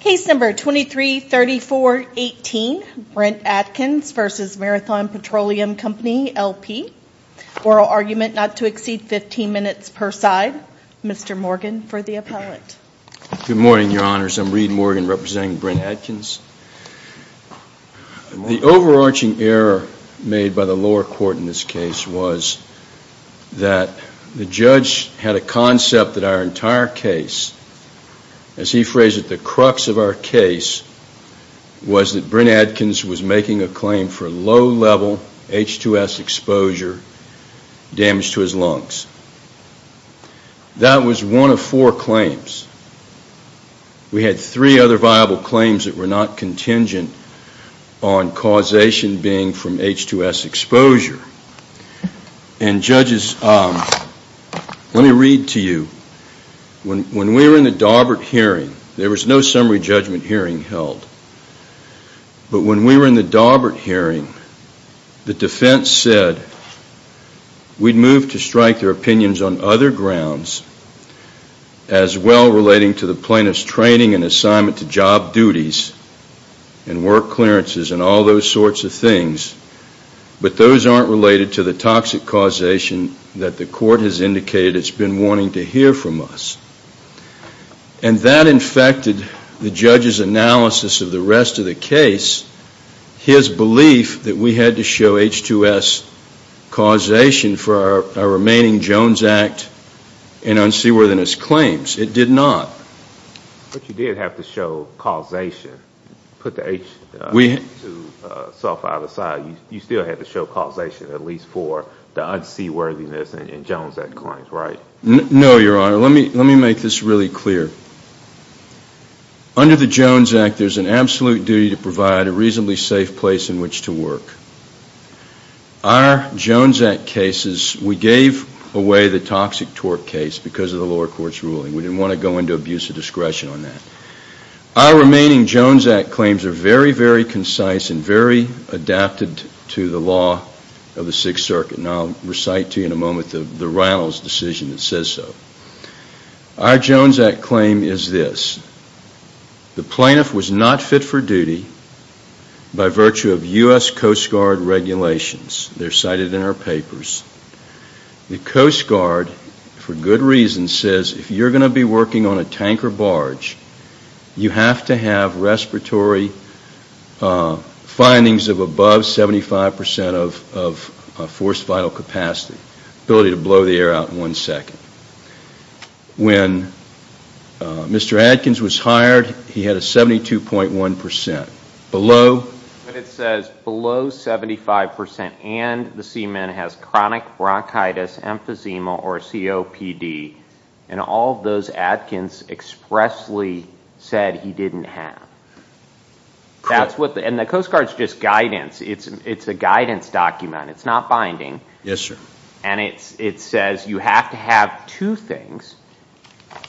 Case number 233418, Brent Adkins v. Marathon Petroleum Company LP. Oral argument not to exceed 15 minutes per side. Mr. Morgan for the appellate. Good morning, Your Honors. I'm Reed Morgan representing Brent Adkins. The overarching error made by the lower court in this case was that the judge had a concept that our entire case, as he phrased it, the crux of our case was that Brent Adkins was making a claim for low-level H2S exposure damage to his lungs. That was one of four claims. We had three other viable claims that were not contingent on causation being from H2S exposure. And, judges, let me read to you. When we were in the Darbert hearing, there was no summary judgment hearing held, but when we were in the Darbert hearing, the defense said we'd move to strike their opinions on other grounds as well relating to the plaintiff's training and assignment to job duties and work clearances and all those sorts of things, but those aren't related to the toxic causation that the court has indicated it's been wanting to hear from us. And that infected the judge's analysis of the rest of the case, his belief that we had to show H2S causation for our remaining Jones Act and unseaworthiness claims. It did not. But you did have to show causation, put the H2S aside. You still had to show causation at least for the unseaworthiness in Jones Act claims, right? No, Your Honor. Let me make this really clear. Under the Jones Act, there's an absolute duty to provide a reasonably safe place in which to work. Our Jones Act cases, we gave away the toxic torque case because of the lower court's ruling. We didn't want to go into abuse of discretion on that. Our remaining Jones Act claims are very, very concise and very adapted to the law of the Sixth Circuit, and I'll recite to you in a moment the Reynolds decision that says so. Our Jones Act claim is this. The plaintiff was not fit for duty by virtue of U.S. Coast Guard regulations. They're cited in our papers. The Coast Guard, for good reason, says if you're going to be working on a tanker barge, you have to have respiratory findings of above 75% of forced vital capacity, the ability to blow the air out in one second. When Mr. Adkins was hired, he had a 72.1%. Below? It says below 75% and the seaman has chronic bronchitis, emphysema, or COPD, and all those Adkins expressly said he didn't have. And the Coast Guard's just guidance. It's a guidance document. It's not binding. Yes, sir. And it says you have to have two things,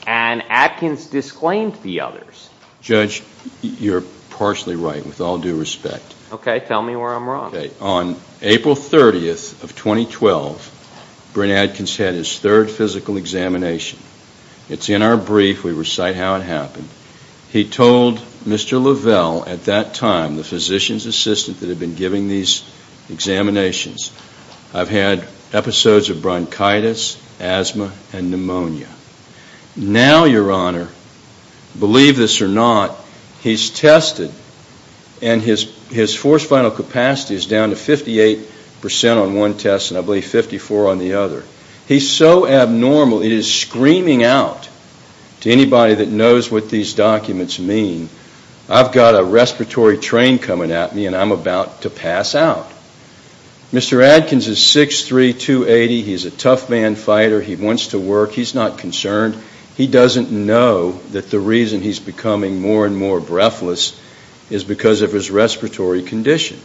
and Adkins disclaimed the others. Judge, you're partially right with all due respect. Okay, tell me where I'm wrong. Okay, on April 30th of 2012, Brent Adkins had his third physical examination. It's in our brief. We recite how it happened. He told Mr. Lavelle at that time, the physician's assistant that had been giving these examinations, I've had episodes of bronchitis, asthma, and pneumonia. Now, your honor, believe this or not, he's tested and his forced vital capacity is down to 58% on one test and I believe 54 on the other. He's so abnormal, he is screaming out to anybody that knows what these documents mean, I've got a respiratory train coming at me and I'm about to pass out. Mr. Adkins is 6'3", 280. He's a tough man fighter. He wants to work. He's not concerned. He doesn't know that the reason he's becoming more and more breathless is because of his respiratory condition.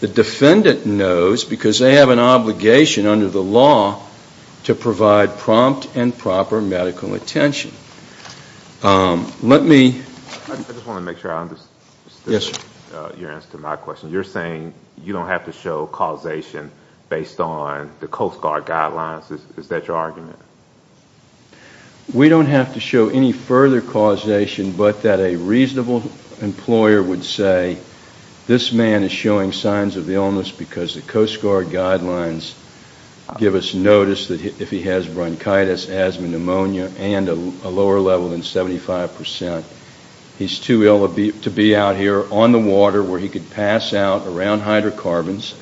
The defendant knows because they have an obligation under the law to provide prompt and proper medical attention. Let me... I just want to make sure I understand your answer to my question. You're saying you don't have to show causation based on the Coast Guard guidelines? Is that your argument? We don't have to show any further causation but that a reasonable employer would say this man is showing signs of illness because the Coast Guard guidelines give us notice that if he has bronchitis, asthma, pneumonia, and a lower level than 75%. He's too ill to be out here on the ground around hydrocarbons.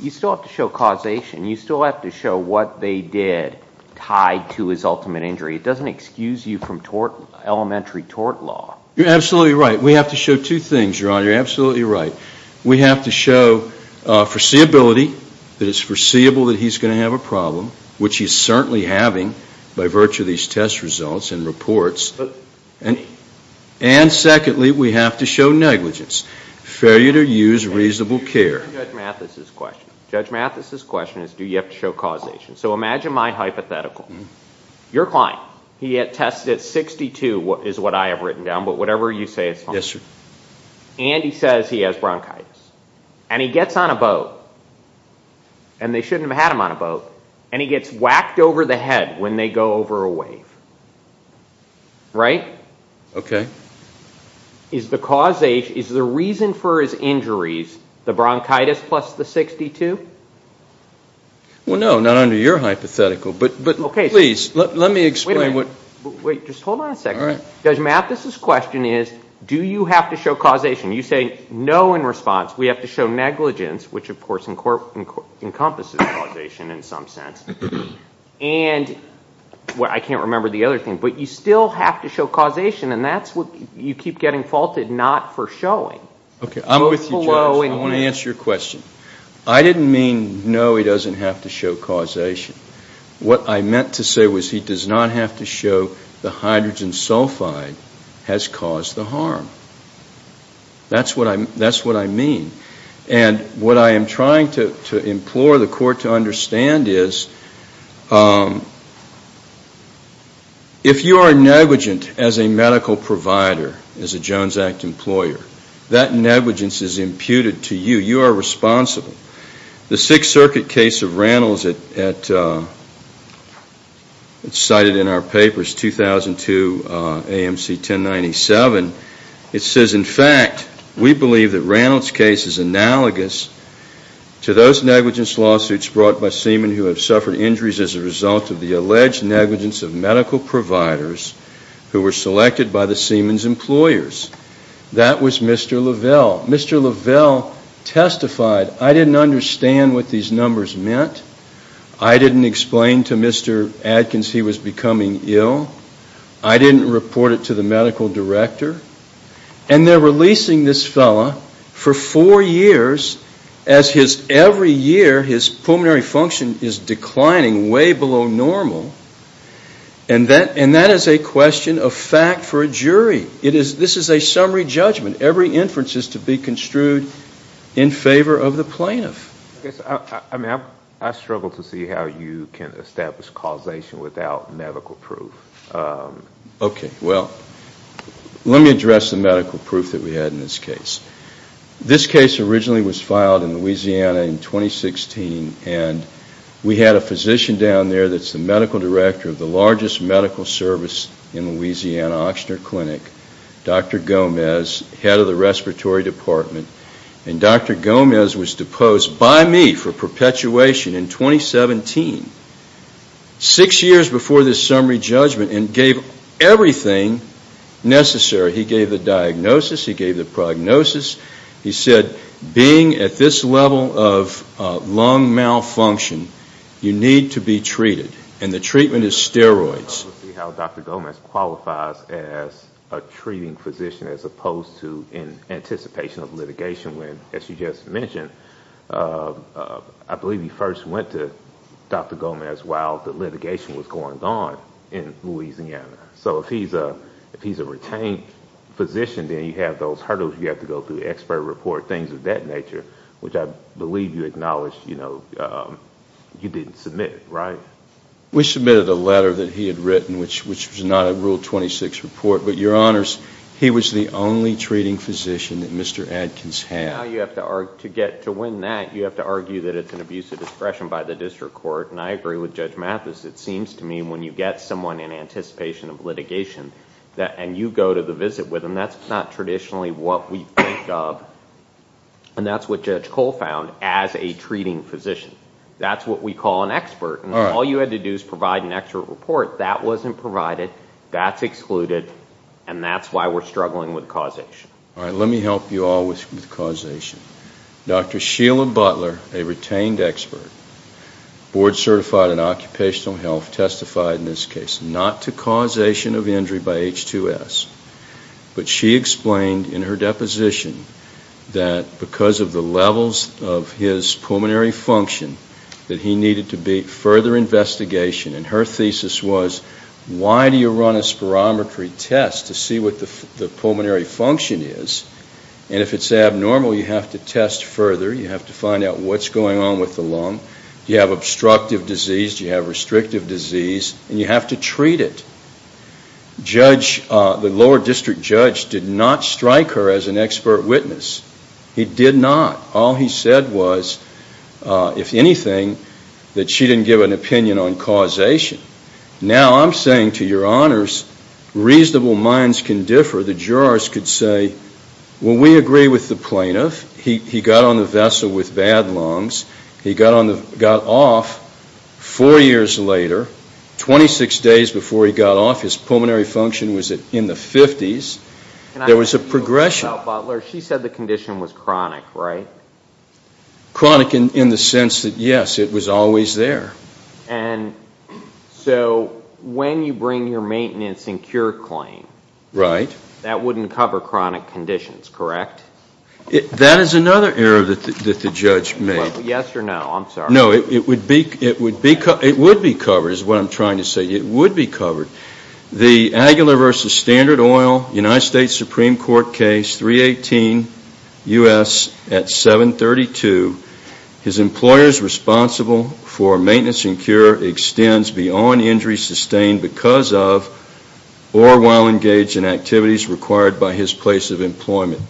You still have to show causation. You still have to show what they did tied to his ultimate injury. It doesn't excuse you from elementary tort law. You're absolutely right. We have to show two things, Your Honor. You're absolutely right. We have to show foreseeability that it's foreseeable that he's going to have a problem, which he's certainly having by virtue of these test results and reports. And secondly, we have to show negligence, failure to use reasonable care. Judge Mathis's question. Judge Mathis's question is do you have to show causation? So imagine my hypothetical. Your client, he had tested 62 is what I have written down, but whatever you say is fine. Yes, sir. And he says he has bronchitis and he gets on a boat and they shouldn't have had him on a boat and he gets whacked over the head when they go over a wave. Right? Okay. Is the causation, is the reason for his injuries the bronchitis plus the 62? Well, no, not under your hypothetical, but please, let me explain what. Wait, just hold on a second. Judge Mathis's question is do you have to show causation? You say no in response. We have to show negligence, which of course encompasses causation in some sense. And what, I can't remember the other thing, but you still have to show causation and that's what you keep getting faulted not for showing. Okay, I'm with you, Judge. I want to answer your question. I didn't mean no, he doesn't have to show causation. What I meant to say was he does not have to show the hydrogen sulfide has caused the harm. That's what I mean. And what I am trying to implore the court to understand is if you are negligent as a medical provider, as a Jones Act employer, that negligence is imputed to you. You are responsible. The Sixth It says, in fact, we believe that Randall's case is analogous to those negligence lawsuits brought by semen who have suffered injuries as a result of the alleged negligence of medical providers who were selected by the semen's employers. That was Mr. Lovell. Mr. Lovell testified, I didn't understand what these numbers meant. I didn't explain to Mr. Adkins he was becoming ill. I didn't report it to the medical director. And they are releasing this fellow for four years as his every year his pulmonary function is declining way below normal. And that is a question of fact for a jury. This is a summary judgment. Every inference is to be construed in favor of the plaintiff. I struggle to see how you can establish causation without medical proof. Okay, well, let me address the medical proof that we had in this case. This case originally was filed in Louisiana in 2016 and we had a physician down there that's the medical director of the largest medical service in Louisiana, Ochsner Clinic, Dr. Gomez, head of the respiratory department. And Dr. Gomez was deposed by me for perpetuation in 2017, six years before this summary judgment and gave everything necessary. He gave the diagnosis. He gave the prognosis. He said being at this level of lung malfunction, you need to be treated. And the treatment is steroids. I don't see how Dr. Gomez qualifies as a treating physician as opposed to in anticipation of litigation when, as you just mentioned, I believe you first went to Dr. Gomez while the litigation was going on in Louisiana. So if he's a retained physician, then you have those hurdles you have to go through, expert report, things of that nature, which I believe you acknowledged you didn't submit, right? We submitted a letter that he had written, which was not a Rule 26 report, but Your Honors, he was the only treating physician that Mr. Adkins had. To win that, you have to argue that it's an abuse of discretion by the district court and I agree with Judge Mathis. It seems to me when you get someone in anticipation of litigation and you go to the visit with them, that's not traditionally what we think of and that's what Judge Cole found as a treating physician. That's what we call an expert. All you had to do is provide an expert report. That wasn't provided, that's excluded, and that's why we're struggling with causation. Let me help you all with causation. Dr. Sheila Butler, a retained expert, board certified in occupational health, testified in this case not to causation of injury by H2S, but she explained in her deposition that because of the levels of his pulmonary function, that he needed to be further investigation and her thesis was why do you run a spirometry test to see what the pulmonary function is and if it's abnormal, you have to test further, you have to find out what's going on with the lung, do you have obstructive disease, do you have restrictive disease, and you have to treat it. The lower district judge did not strike her as an expert witness. He did not. All he said was, if anything, that she didn't give an opinion on causation. Now I'm saying to your honors, reasonable minds can differ. The jurors could say, well we agree with the plaintiff, he got on the vessel with bad lungs, he got off four years later, 26 days before he got off, his pulmonary function was in the 50s, there was a progression. Now Butler, she said the condition was chronic, right? Chronic in the sense that yes, it was always there. And so when you bring your maintenance and cure claim, that wouldn't cover chronic conditions, correct? That is another error that the judge made. Yes or no, I'm sorry. No, it would be covered is what I'm trying to say. It would be covered. The Aguilar v. Standard Oil, United States Supreme Court case, 318 U.S. at 732, his employers responsible for maintenance and cure extends beyond injury sustained because of or while engaged in activities required by his place of employment.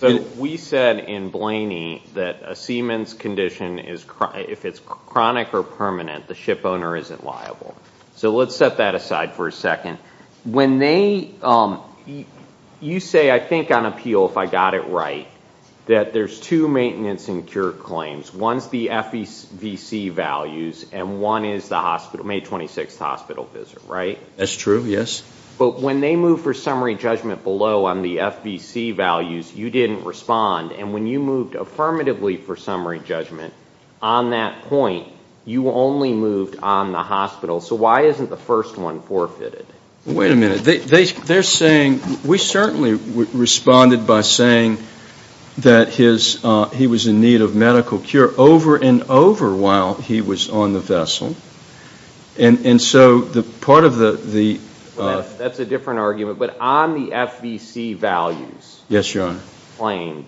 So we said in Blaney that a semen's condition, if it's chronic or permanent, the ship owner isn't liable. So let's set that aside for a second. When they, you say, I think on appeal, if I got it right, that there's two maintenance and cure claims. One's the FVC values and one is the hospital, May 26th hospital visit, right? That's true, yes. But when they moved for summary judgment below on the FVC values, you didn't respond. And when you moved affirmatively for summary judgment on that point, you only moved on the hospital. So why isn't the first one forfeited? Wait a minute. They're saying, we certainly responded by saying that he was in need of medical cure over and over while he was on the vessel. And so part of the... That's a different argument. But on the FVC values claim,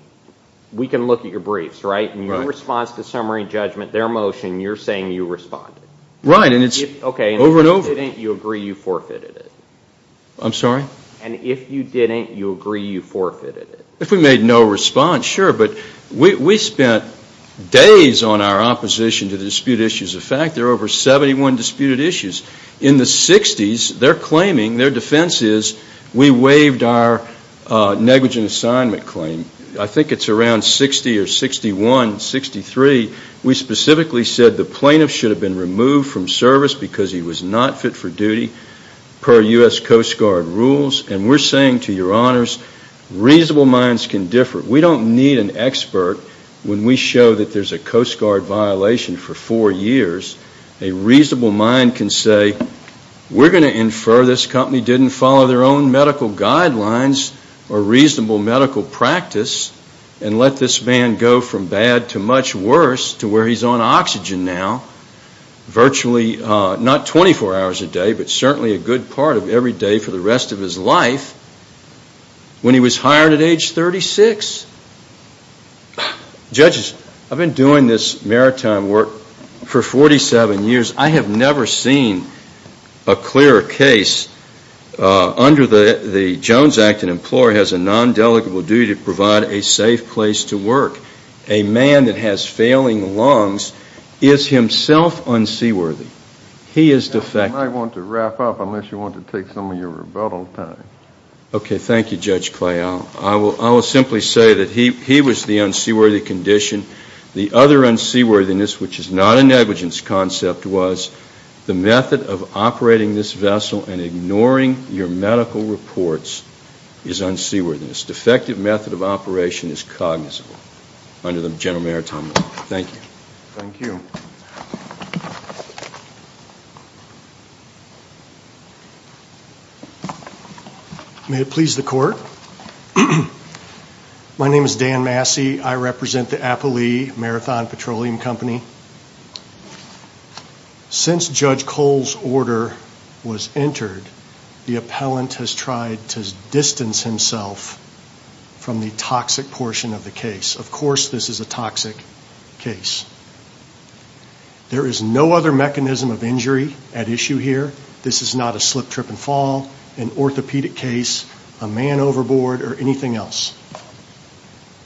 we can look at your briefs, right? In your response to summary judgment, their motion, you're saying you responded. Right. And it's over and over. If you didn't, you agree you forfeited it. I'm sorry? And if you didn't, you agree you forfeited it. If we made no response, sure. But we spent days on our opposition to the dispute issues. In fact, there are over 71 disputed issues. In the 60s, they're claiming, their defense is, we waived our negligent assignment claim. I think it's around 60 or 61, 63. We specifically said the plaintiff should have been removed from service because he was not fit for duty per U.S. Coast Guard rules. And we're saying to your honors, reasonable minds can differ. We don't need an expert when we show that there's a Coast Guard violation for four years. A reasonable mind can say, we're going to infer this company didn't follow their own medical guidelines or reasonable medical practice and let this man go from bad to much worse to where he's on oxygen now, virtually not 24 hours a day, but certainly a good part of every day for the rest of his life when he was hired at age 36. Judges, I've been doing this maritime work for 47 years. I have never seen a clearer case under the Jones Act, an employer has a nondelegable duty to provide a safe place to work. A man that has failing lungs is himself unseaworthy. He is defective. You might want to wrap up unless you want to take some of your rebuttal time. Okay. Thank you, Judge Clay. I will simply say that he was the unseaworthy condition. The other unseaworthiness, which is not a negligence concept, was the method of operating this vessel and ignoring your medical reports is unseaworthiness. Defective method of operation is cognizable under the general maritime law. Thank you. Thank you. May it please the court. My name is Dan Massey. I represent the Appalee Marathon Petroleum Company. Since Judge Cole's order was entered, the appellant has tried to distance himself from the toxic portion of the case. Of course, this is a toxic case. There is no other mechanism of injury at issue here. This is not a slip, trip, and fall, an orthopedic case, a man overboard, or anything else.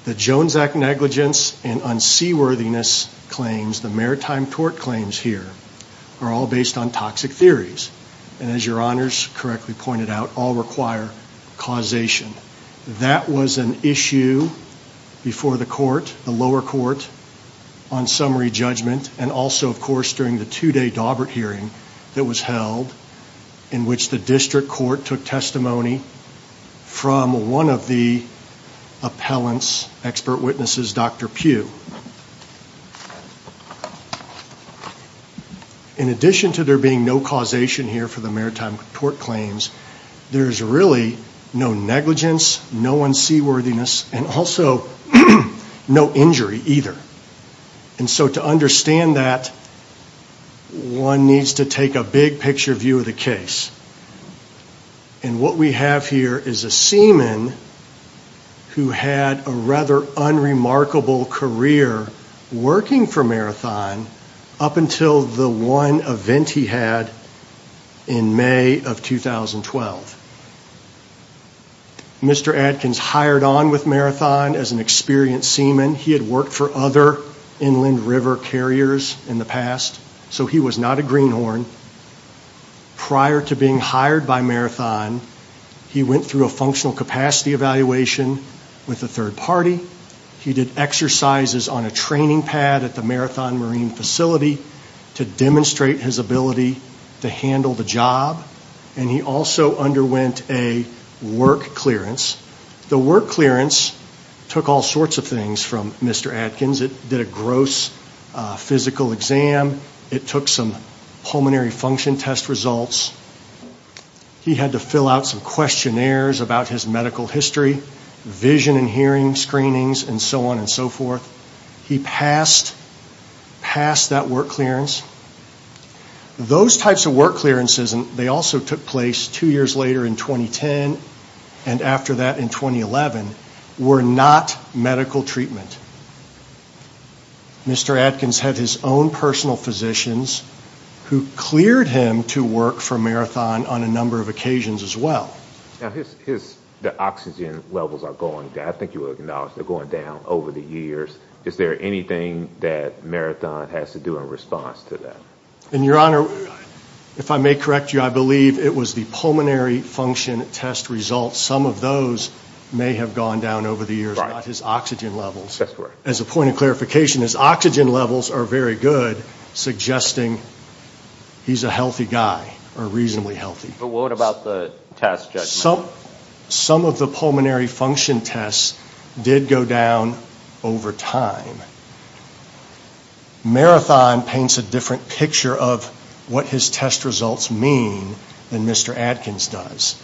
The Jones Act negligence and unseaworthiness claims, the maritime tort claims here, are all based on toxic theories and as your honors correctly pointed out, all require causation. That was an issue before the court, the lower court, on summary judgment and also of course during the two-day Daubert hearing that was held in which the district court took testimony from one of the appellant's expert witnesses, Dr. Pugh. In addition to there being no causation here for the maritime tort claims, there is really no negligence, no unseaworthiness, and also no injury either. To understand that, one needs to take a big picture view of the case. And what we have here is a seaman who had a rather unremarkable career working for Marathon up until the one event he had in May of 2012. Mr. Adkins hired on with Marathon as an experienced seaman. He had worked for other inland river carriers in the past, so he was not a greenhorn. Prior to being hired by Marathon, he went through a functional capacity evaluation with a third party. He did exercises on a training pad at the Marathon Marine Facility to demonstrate his ability to handle the job and he also underwent a work clearance. The work clearance took all sorts of things from Mr. Adkins. It did a gross physical exam. It took some pulmonary function test results. He had to fill out some questionnaires about his medical history, vision and hearing screenings, and so on and so forth. He passed that work clearance. Those types of work clearances, and they also took place two years later in 2010 and after that in 2011, were not medical treatment. Mr. Adkins had his own personal physicians who cleared him to work for Marathon on a number of occasions as well. Now, the oxygen levels are going down. I think you acknowledged they're going down over the years. Is there anything that Marathon has to do in response to that? Your Honor, if I may correct you, I believe it was the pulmonary function test results. Some of those may have gone down over the years, not his oxygen levels. As a point of clarification, his oxygen levels are very good, suggesting he's a healthy guy or reasonably healthy. But what about the test judgment? Some of the pulmonary function tests did go down over time. Marathon paints a different picture of what his test results mean than Mr. Adkins does.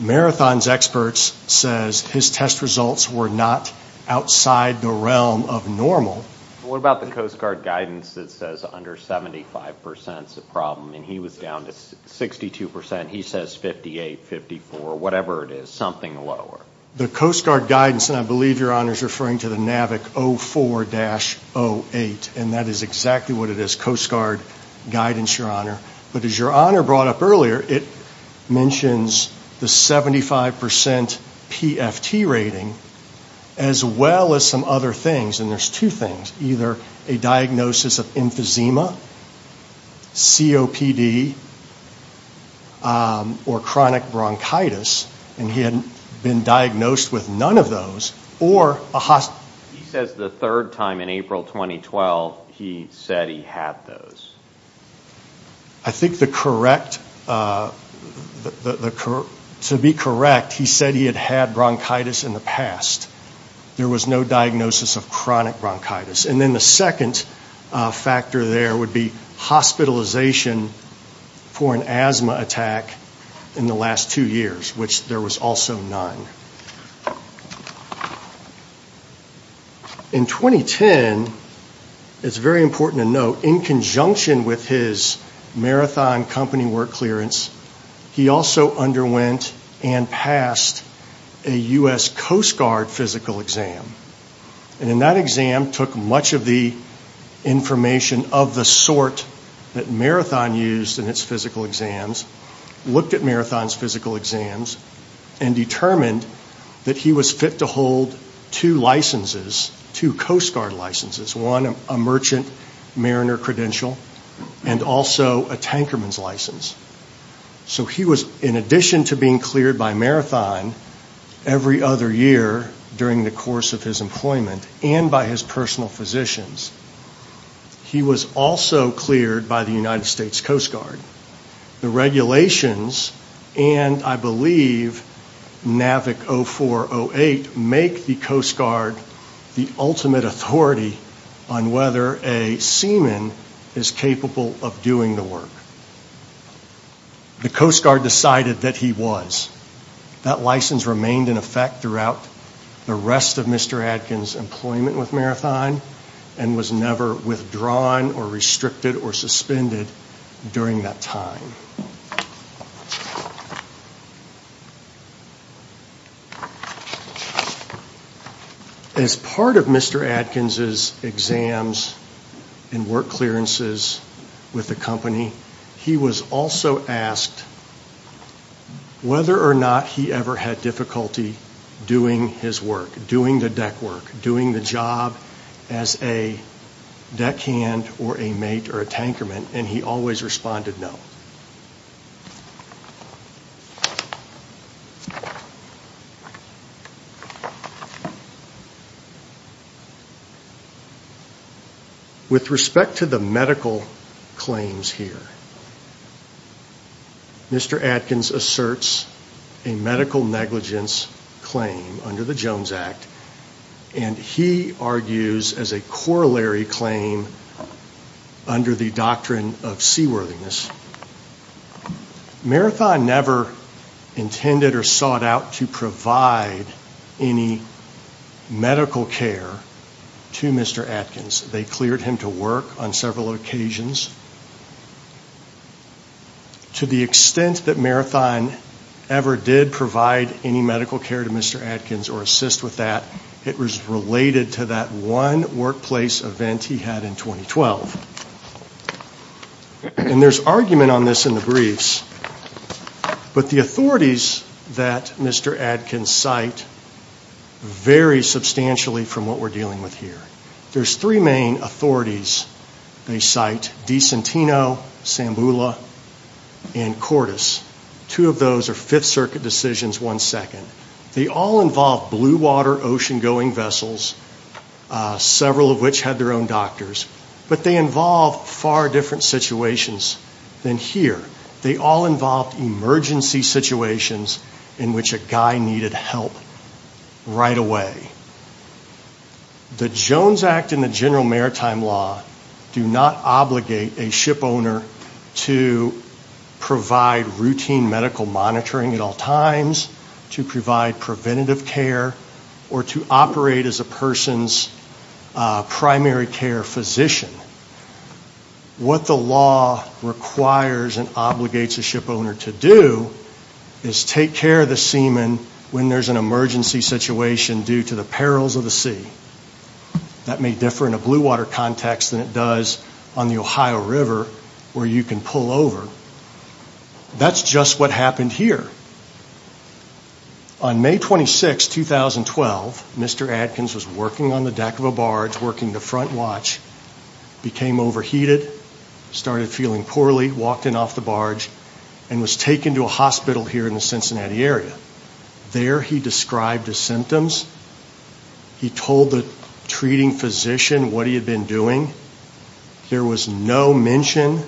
Marathon's experts says his test results were not outside the realm of normal. What about the Coast Guard guidance that says under 75% is a problem, and he was down to 62%. He says 58, 54, whatever it is, something lower. The Coast Guard guidance, and I believe Your Honor is referring to the NAVIC 04-08, and that is exactly what it is, Coast Guard guidance, Your Honor. But as Your Honor brought up earlier, it mentions the 75% PFT rating, as well as some other things, and there's two things, either a diagnosis of emphysema, COPD, or chronic bronchitis. And he had been diagnosed with none of those, or a hospitalization. He says the third time in April 2012, he said he had those. I think the correct, to be correct, he said he had had bronchitis in the past. There was no diagnosis of chronic bronchitis. And then the second factor there would be hospitalization for an asthma attack in the last two years, which there was also none. In 2010, it's very important to note, in conjunction with his Marathon company work clearance, he also underwent and passed a U.S. Coast Guard physical exam. And in that exam, took much of the information of the sort that Marathon used in its physical exams, looked at Marathon's physical exams, and determined that he was fit to hold two licenses, two Coast Guard licenses, one a Merchant Mariner credential, and also a Tankerman's license. So he was, in addition to being cleared by Marathon every other year during the course of his employment, and by his personal physicians, he was also cleared by the United States Coast Guard. The regulations, and I believe NAVIC 0408, make the Coast Guard the ultimate authority on whether a seaman is capable of doing the work. The Coast Guard decided that he was. That license remained in effect throughout the rest of Mr. Adkins' employment with Marathon, and was never withdrawn or restricted or suspended during that time. As part of Mr. Adkins' exams and work clearances with the company, he was also asked whether or not he ever had difficulty doing his work, doing the deck work, doing the job as a deckhand or a mate or a Tankerman, and he always responded no. With respect to the medical claims here, Mr. Adkins asserts a medical negligence claim under the Jones Act, and he argues as a corollary claim under the doctrine of seaworthiness. Marathon never intended or sought out to provide any medical care to Mr. Adkins. They cleared him to work on several occasions. To the extent that Marathon ever did provide any medical care to Mr. Adkins or assist with that, it was related to that one workplace event he had in 2012. And there's argument on this in the briefs, but the authorities that Mr. Adkins cite vary substantially from what we're dealing with here. There's three main authorities they cite, Dicentino, Sambula, and Cordis. Two of those are Fifth Circuit decisions, one second. They all involve blue-water, ocean-going vessels, several of which had their own doctors, but they involve far different situations than here. They all involve emergency situations in which a guy needed help right away. The Jones Act and the general maritime law do not obligate a shipowner to provide routine medical monitoring at all times, to provide preventative care, or to operate as a person's primary care physician. What the law requires and obligates a shipowner to do is take care of the seaman when there's an emergency situation due to the perils of the sea. That may differ in a blue-water context than it does on the Ohio River where you can pull over. That's just what happened here. On May 26, 2012, Mr. Adkins was working on the deck of a barge, working the front watch, became overheated, started feeling poorly, walked in off the barge, and was taken to a hospital here in the Cincinnati area. There he described his symptoms. He told the treating physician what he had been doing. There was no mention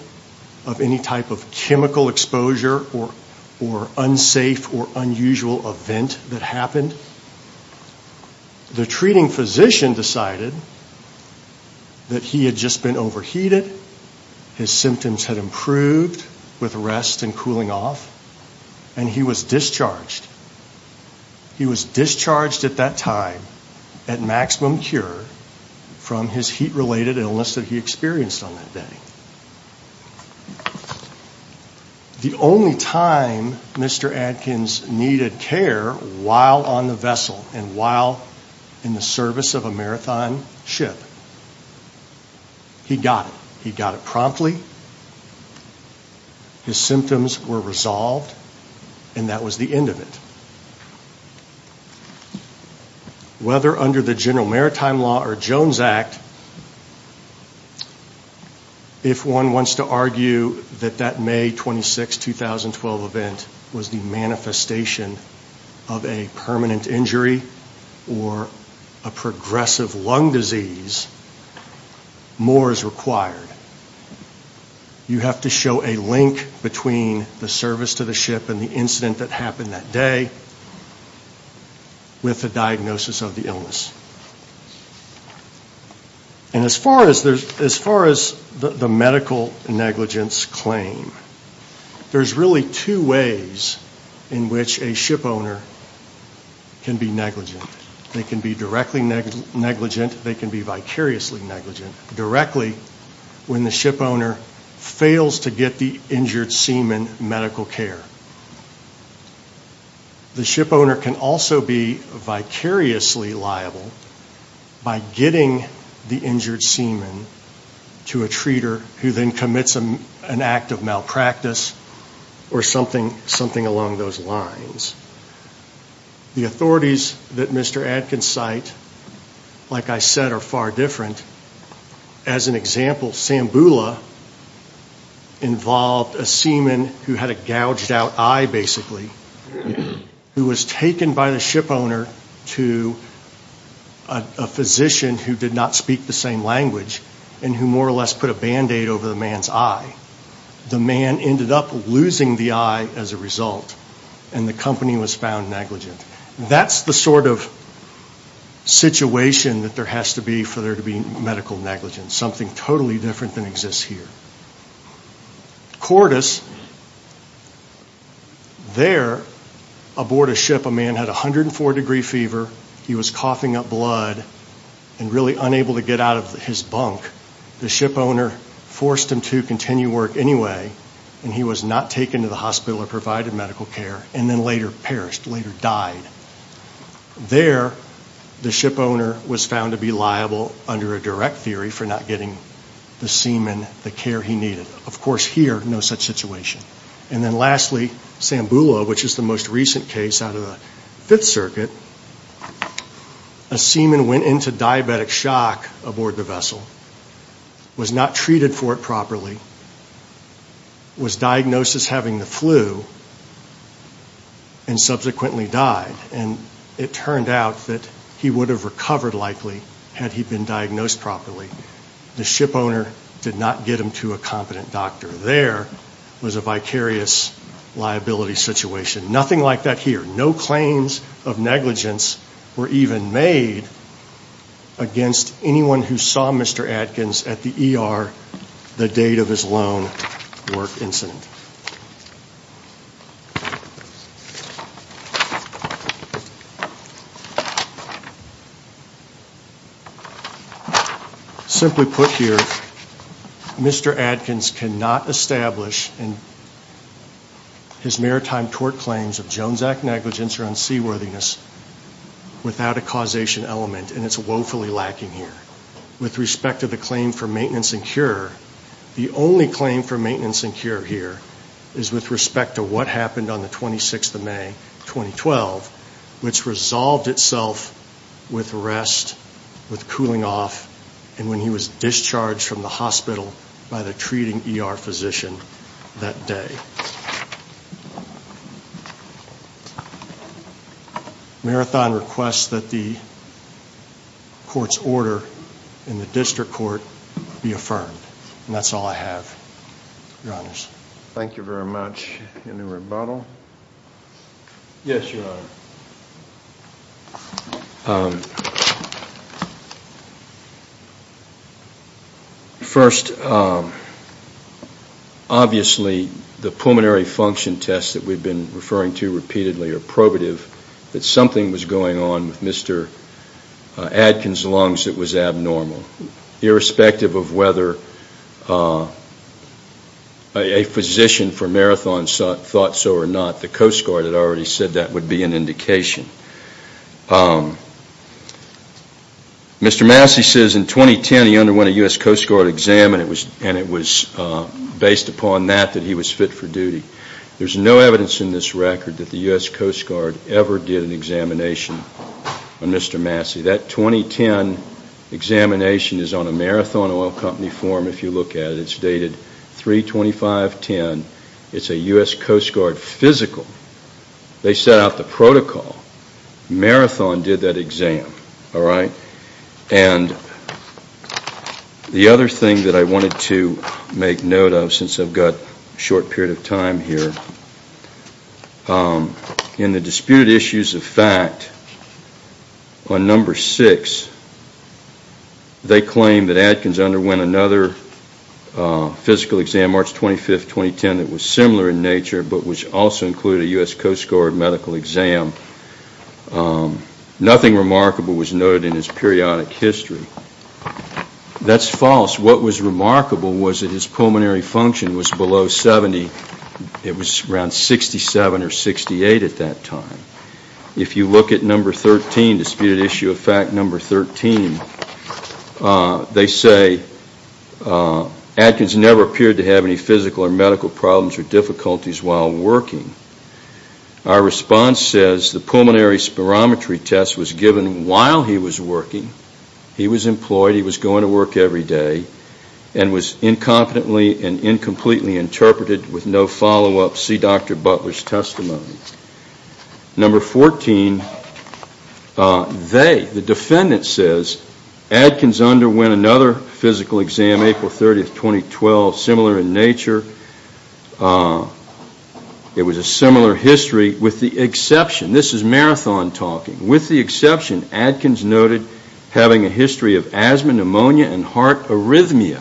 of any type of chemical exposure or unsafe or unusual event that happened. The treating physician decided that he had just been overheated, his symptoms had improved with rest and cooling off, and he was discharged. He was discharged at that time at maximum cure from his heat-related illness that he experienced on that day. The only time Mr. Adkins needed care while on the vessel and while in the service of a marathon ship, he got it. He got it promptly, his symptoms were resolved, and that was the end of it. Whether under the General Maritime Law or Jones Act, if one wants to argue that that May 26, 2012 event was the manifestation of a permanent injury or a progressive lung disease, more is required. You have to show a link between the service to the ship and the incident that happened that day with a diagnosis of the illness. And as far as the medical negligence claim, there's really two ways in which a ship owner can be negligent. They can be directly negligent, they can be vicariously negligent. Directly when the ship owner fails to get the injured seaman medical care. The ship owner can also be vicariously liable by getting the injured seaman to a treater who then commits an act of malpractice or something along those lines. The authorities that Mr. Adkins cite, like I said, are far different. As an example, Sambula involved a seaman who had a gouged out eye, basically, who was taken by the ship owner to a physician who did not speak the same language and who more or less put a Band-Aid over the man's eye. The man ended up losing the eye as a result, and the company was found negligent. That's the sort of situation that there has to be for there to be medical negligence, something totally different than exists here. Cordis, there aboard a ship, a man had a 104-degree fever, he was coughing up blood and really unable to get out of his bunk. The ship owner forced him to continue work anyway, and he was not taken to the hospital or provided medical care and then later perished, later died. There, the ship owner was found to be liable under a direct theory for not getting the seaman the care he needed. Of course, here, no such situation. And then lastly, Sambula, which is the most recent case out of the Fifth Circuit, a seaman went into diabetic shock aboard the vessel, was not treated for it properly, was diagnosed as having the flu and subsequently died. And it turned out that he would have recovered likely had he been diagnosed properly. The ship owner did not get him to a competent doctor. There was a vicarious liability situation. Nothing like that here. No claims of negligence were even made against anyone who saw Mr. Adkins at the ER the date of his lone work incident. Simply put here, Mr. Adkins cannot establish in his maritime tort claims of Jones Act negligence or unseaworthiness without a causation element, and it's woefully lacking here. With respect to the claim for maintenance and cure, the only claim for maintenance and cure here is with respect to what happened on the 26th of May, 2012, which resolved itself with rest, with cooling off, and when he was discharged from the hospital by the treating ER physician that day. Marathon requests that the court's order in the district court be affirmed, and that's all I have, Your Honors. Thank you very much. Any rebuttal? Yes, Your Honor. First, obviously the pulmonary function test that we've been referring to repeatedly or probative that something was going on with Mr. Adkins' lungs that was abnormal. Irrespective of whether a physician for Marathon thought so or not, the Coast Guard had already said that would be an indication. Mr. Massey says in 2010 he underwent a U.S. Coast Guard exam, and it was based upon that that he was fit for duty. There's no evidence in this record that the U.S. Coast Guard ever did an examination on Mr. Massey. That 2010 examination is on a Marathon Oil Company form if you look at it. It's dated 32510. It's a U.S. Coast Guard physical. They set out the protocol. Marathon did that exam. The other thing that I wanted to make note of since I've got a short period of time here, in the disputed issues of fact, on number six, they claim that Adkins underwent another physical exam, March 25, 2010, that was similar in nature but which also included a U.S. Coast Guard medical exam. Nothing remarkable was noted in his periodic history. That's false. What was remarkable was that his pulmonary function was below 70. It was around 67 or 68 at that time. If you look at number 13, disputed issue of fact number 13, they say Adkins never appeared to have any physical or medical problems or difficulties while working. Our response says the pulmonary spirometry test was given while he was working. He was employed. He was going to work every day and was incompetently and incompletely interpreted with no follow-up. See Dr. Butler's testimony. Number 14, they, the defendant says Adkins underwent another physical exam, April 30, 2012, similar in nature. It was a similar history with the exception. This is Marathon talking. With the exception, Adkins noted having a history of asthma, pneumonia, and heart arrhythmia.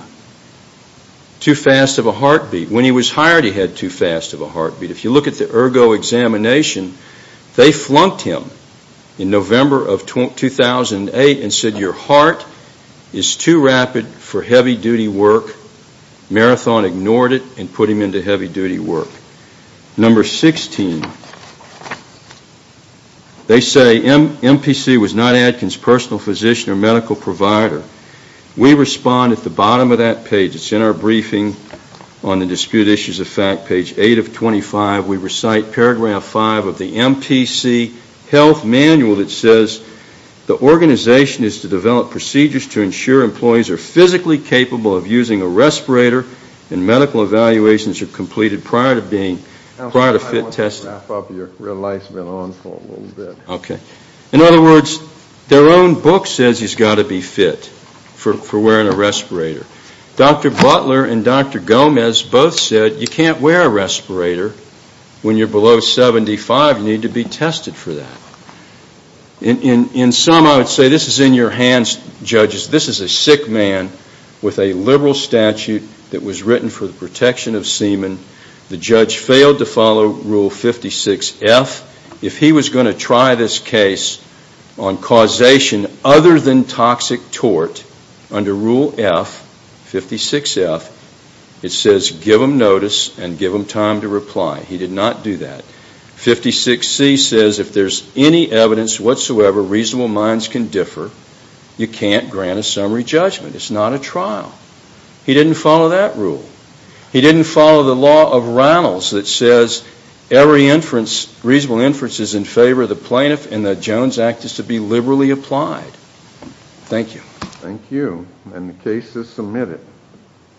Too fast of a heartbeat. When he was hired, he had too fast of a heartbeat. If you look at the ergo examination, they flunked him in November of 2008 and said your heart is too rapid for heavy-duty work. Marathon ignored it and put him into heavy-duty work. Number 16, they say MPC was not Adkins' personal physician or medical provider. We respond at the bottom of that page. It's in our briefing on the dispute issues of fact, page 8 of 25. We recite paragraph 5 of the MPC health manual that says the organization is to develop procedures to ensure employees are physically capable of using a respirator and medical evaluations are completed prior to fit testing. I want to wrap up your real life's been on for a little bit. Okay. In other words, their own book says he's got to be fit for wearing a respirator. Dr. Butler and Dr. Gomez both said you can't wear a respirator when you're below 75. You need to be tested for that. In sum, I would say this is in your hands, judges. This is a sick man with a liberal statute that was written for the protection of semen. The judge failed to follow Rule 56F. If he was going to try this case on causation other than toxic tort under Rule F, 56F, it says give him notice and give him time to reply. He did not do that. 56C says if there's any evidence whatsoever reasonable minds can differ, you can't grant a summary judgment. It's not a trial. He didn't follow that rule. He didn't follow the law of Reynolds that says every inference, reasonable inference is in favor of the plaintiff and the Jones Act is to be liberally applied. Thank you. Thank you. And the case is submitted.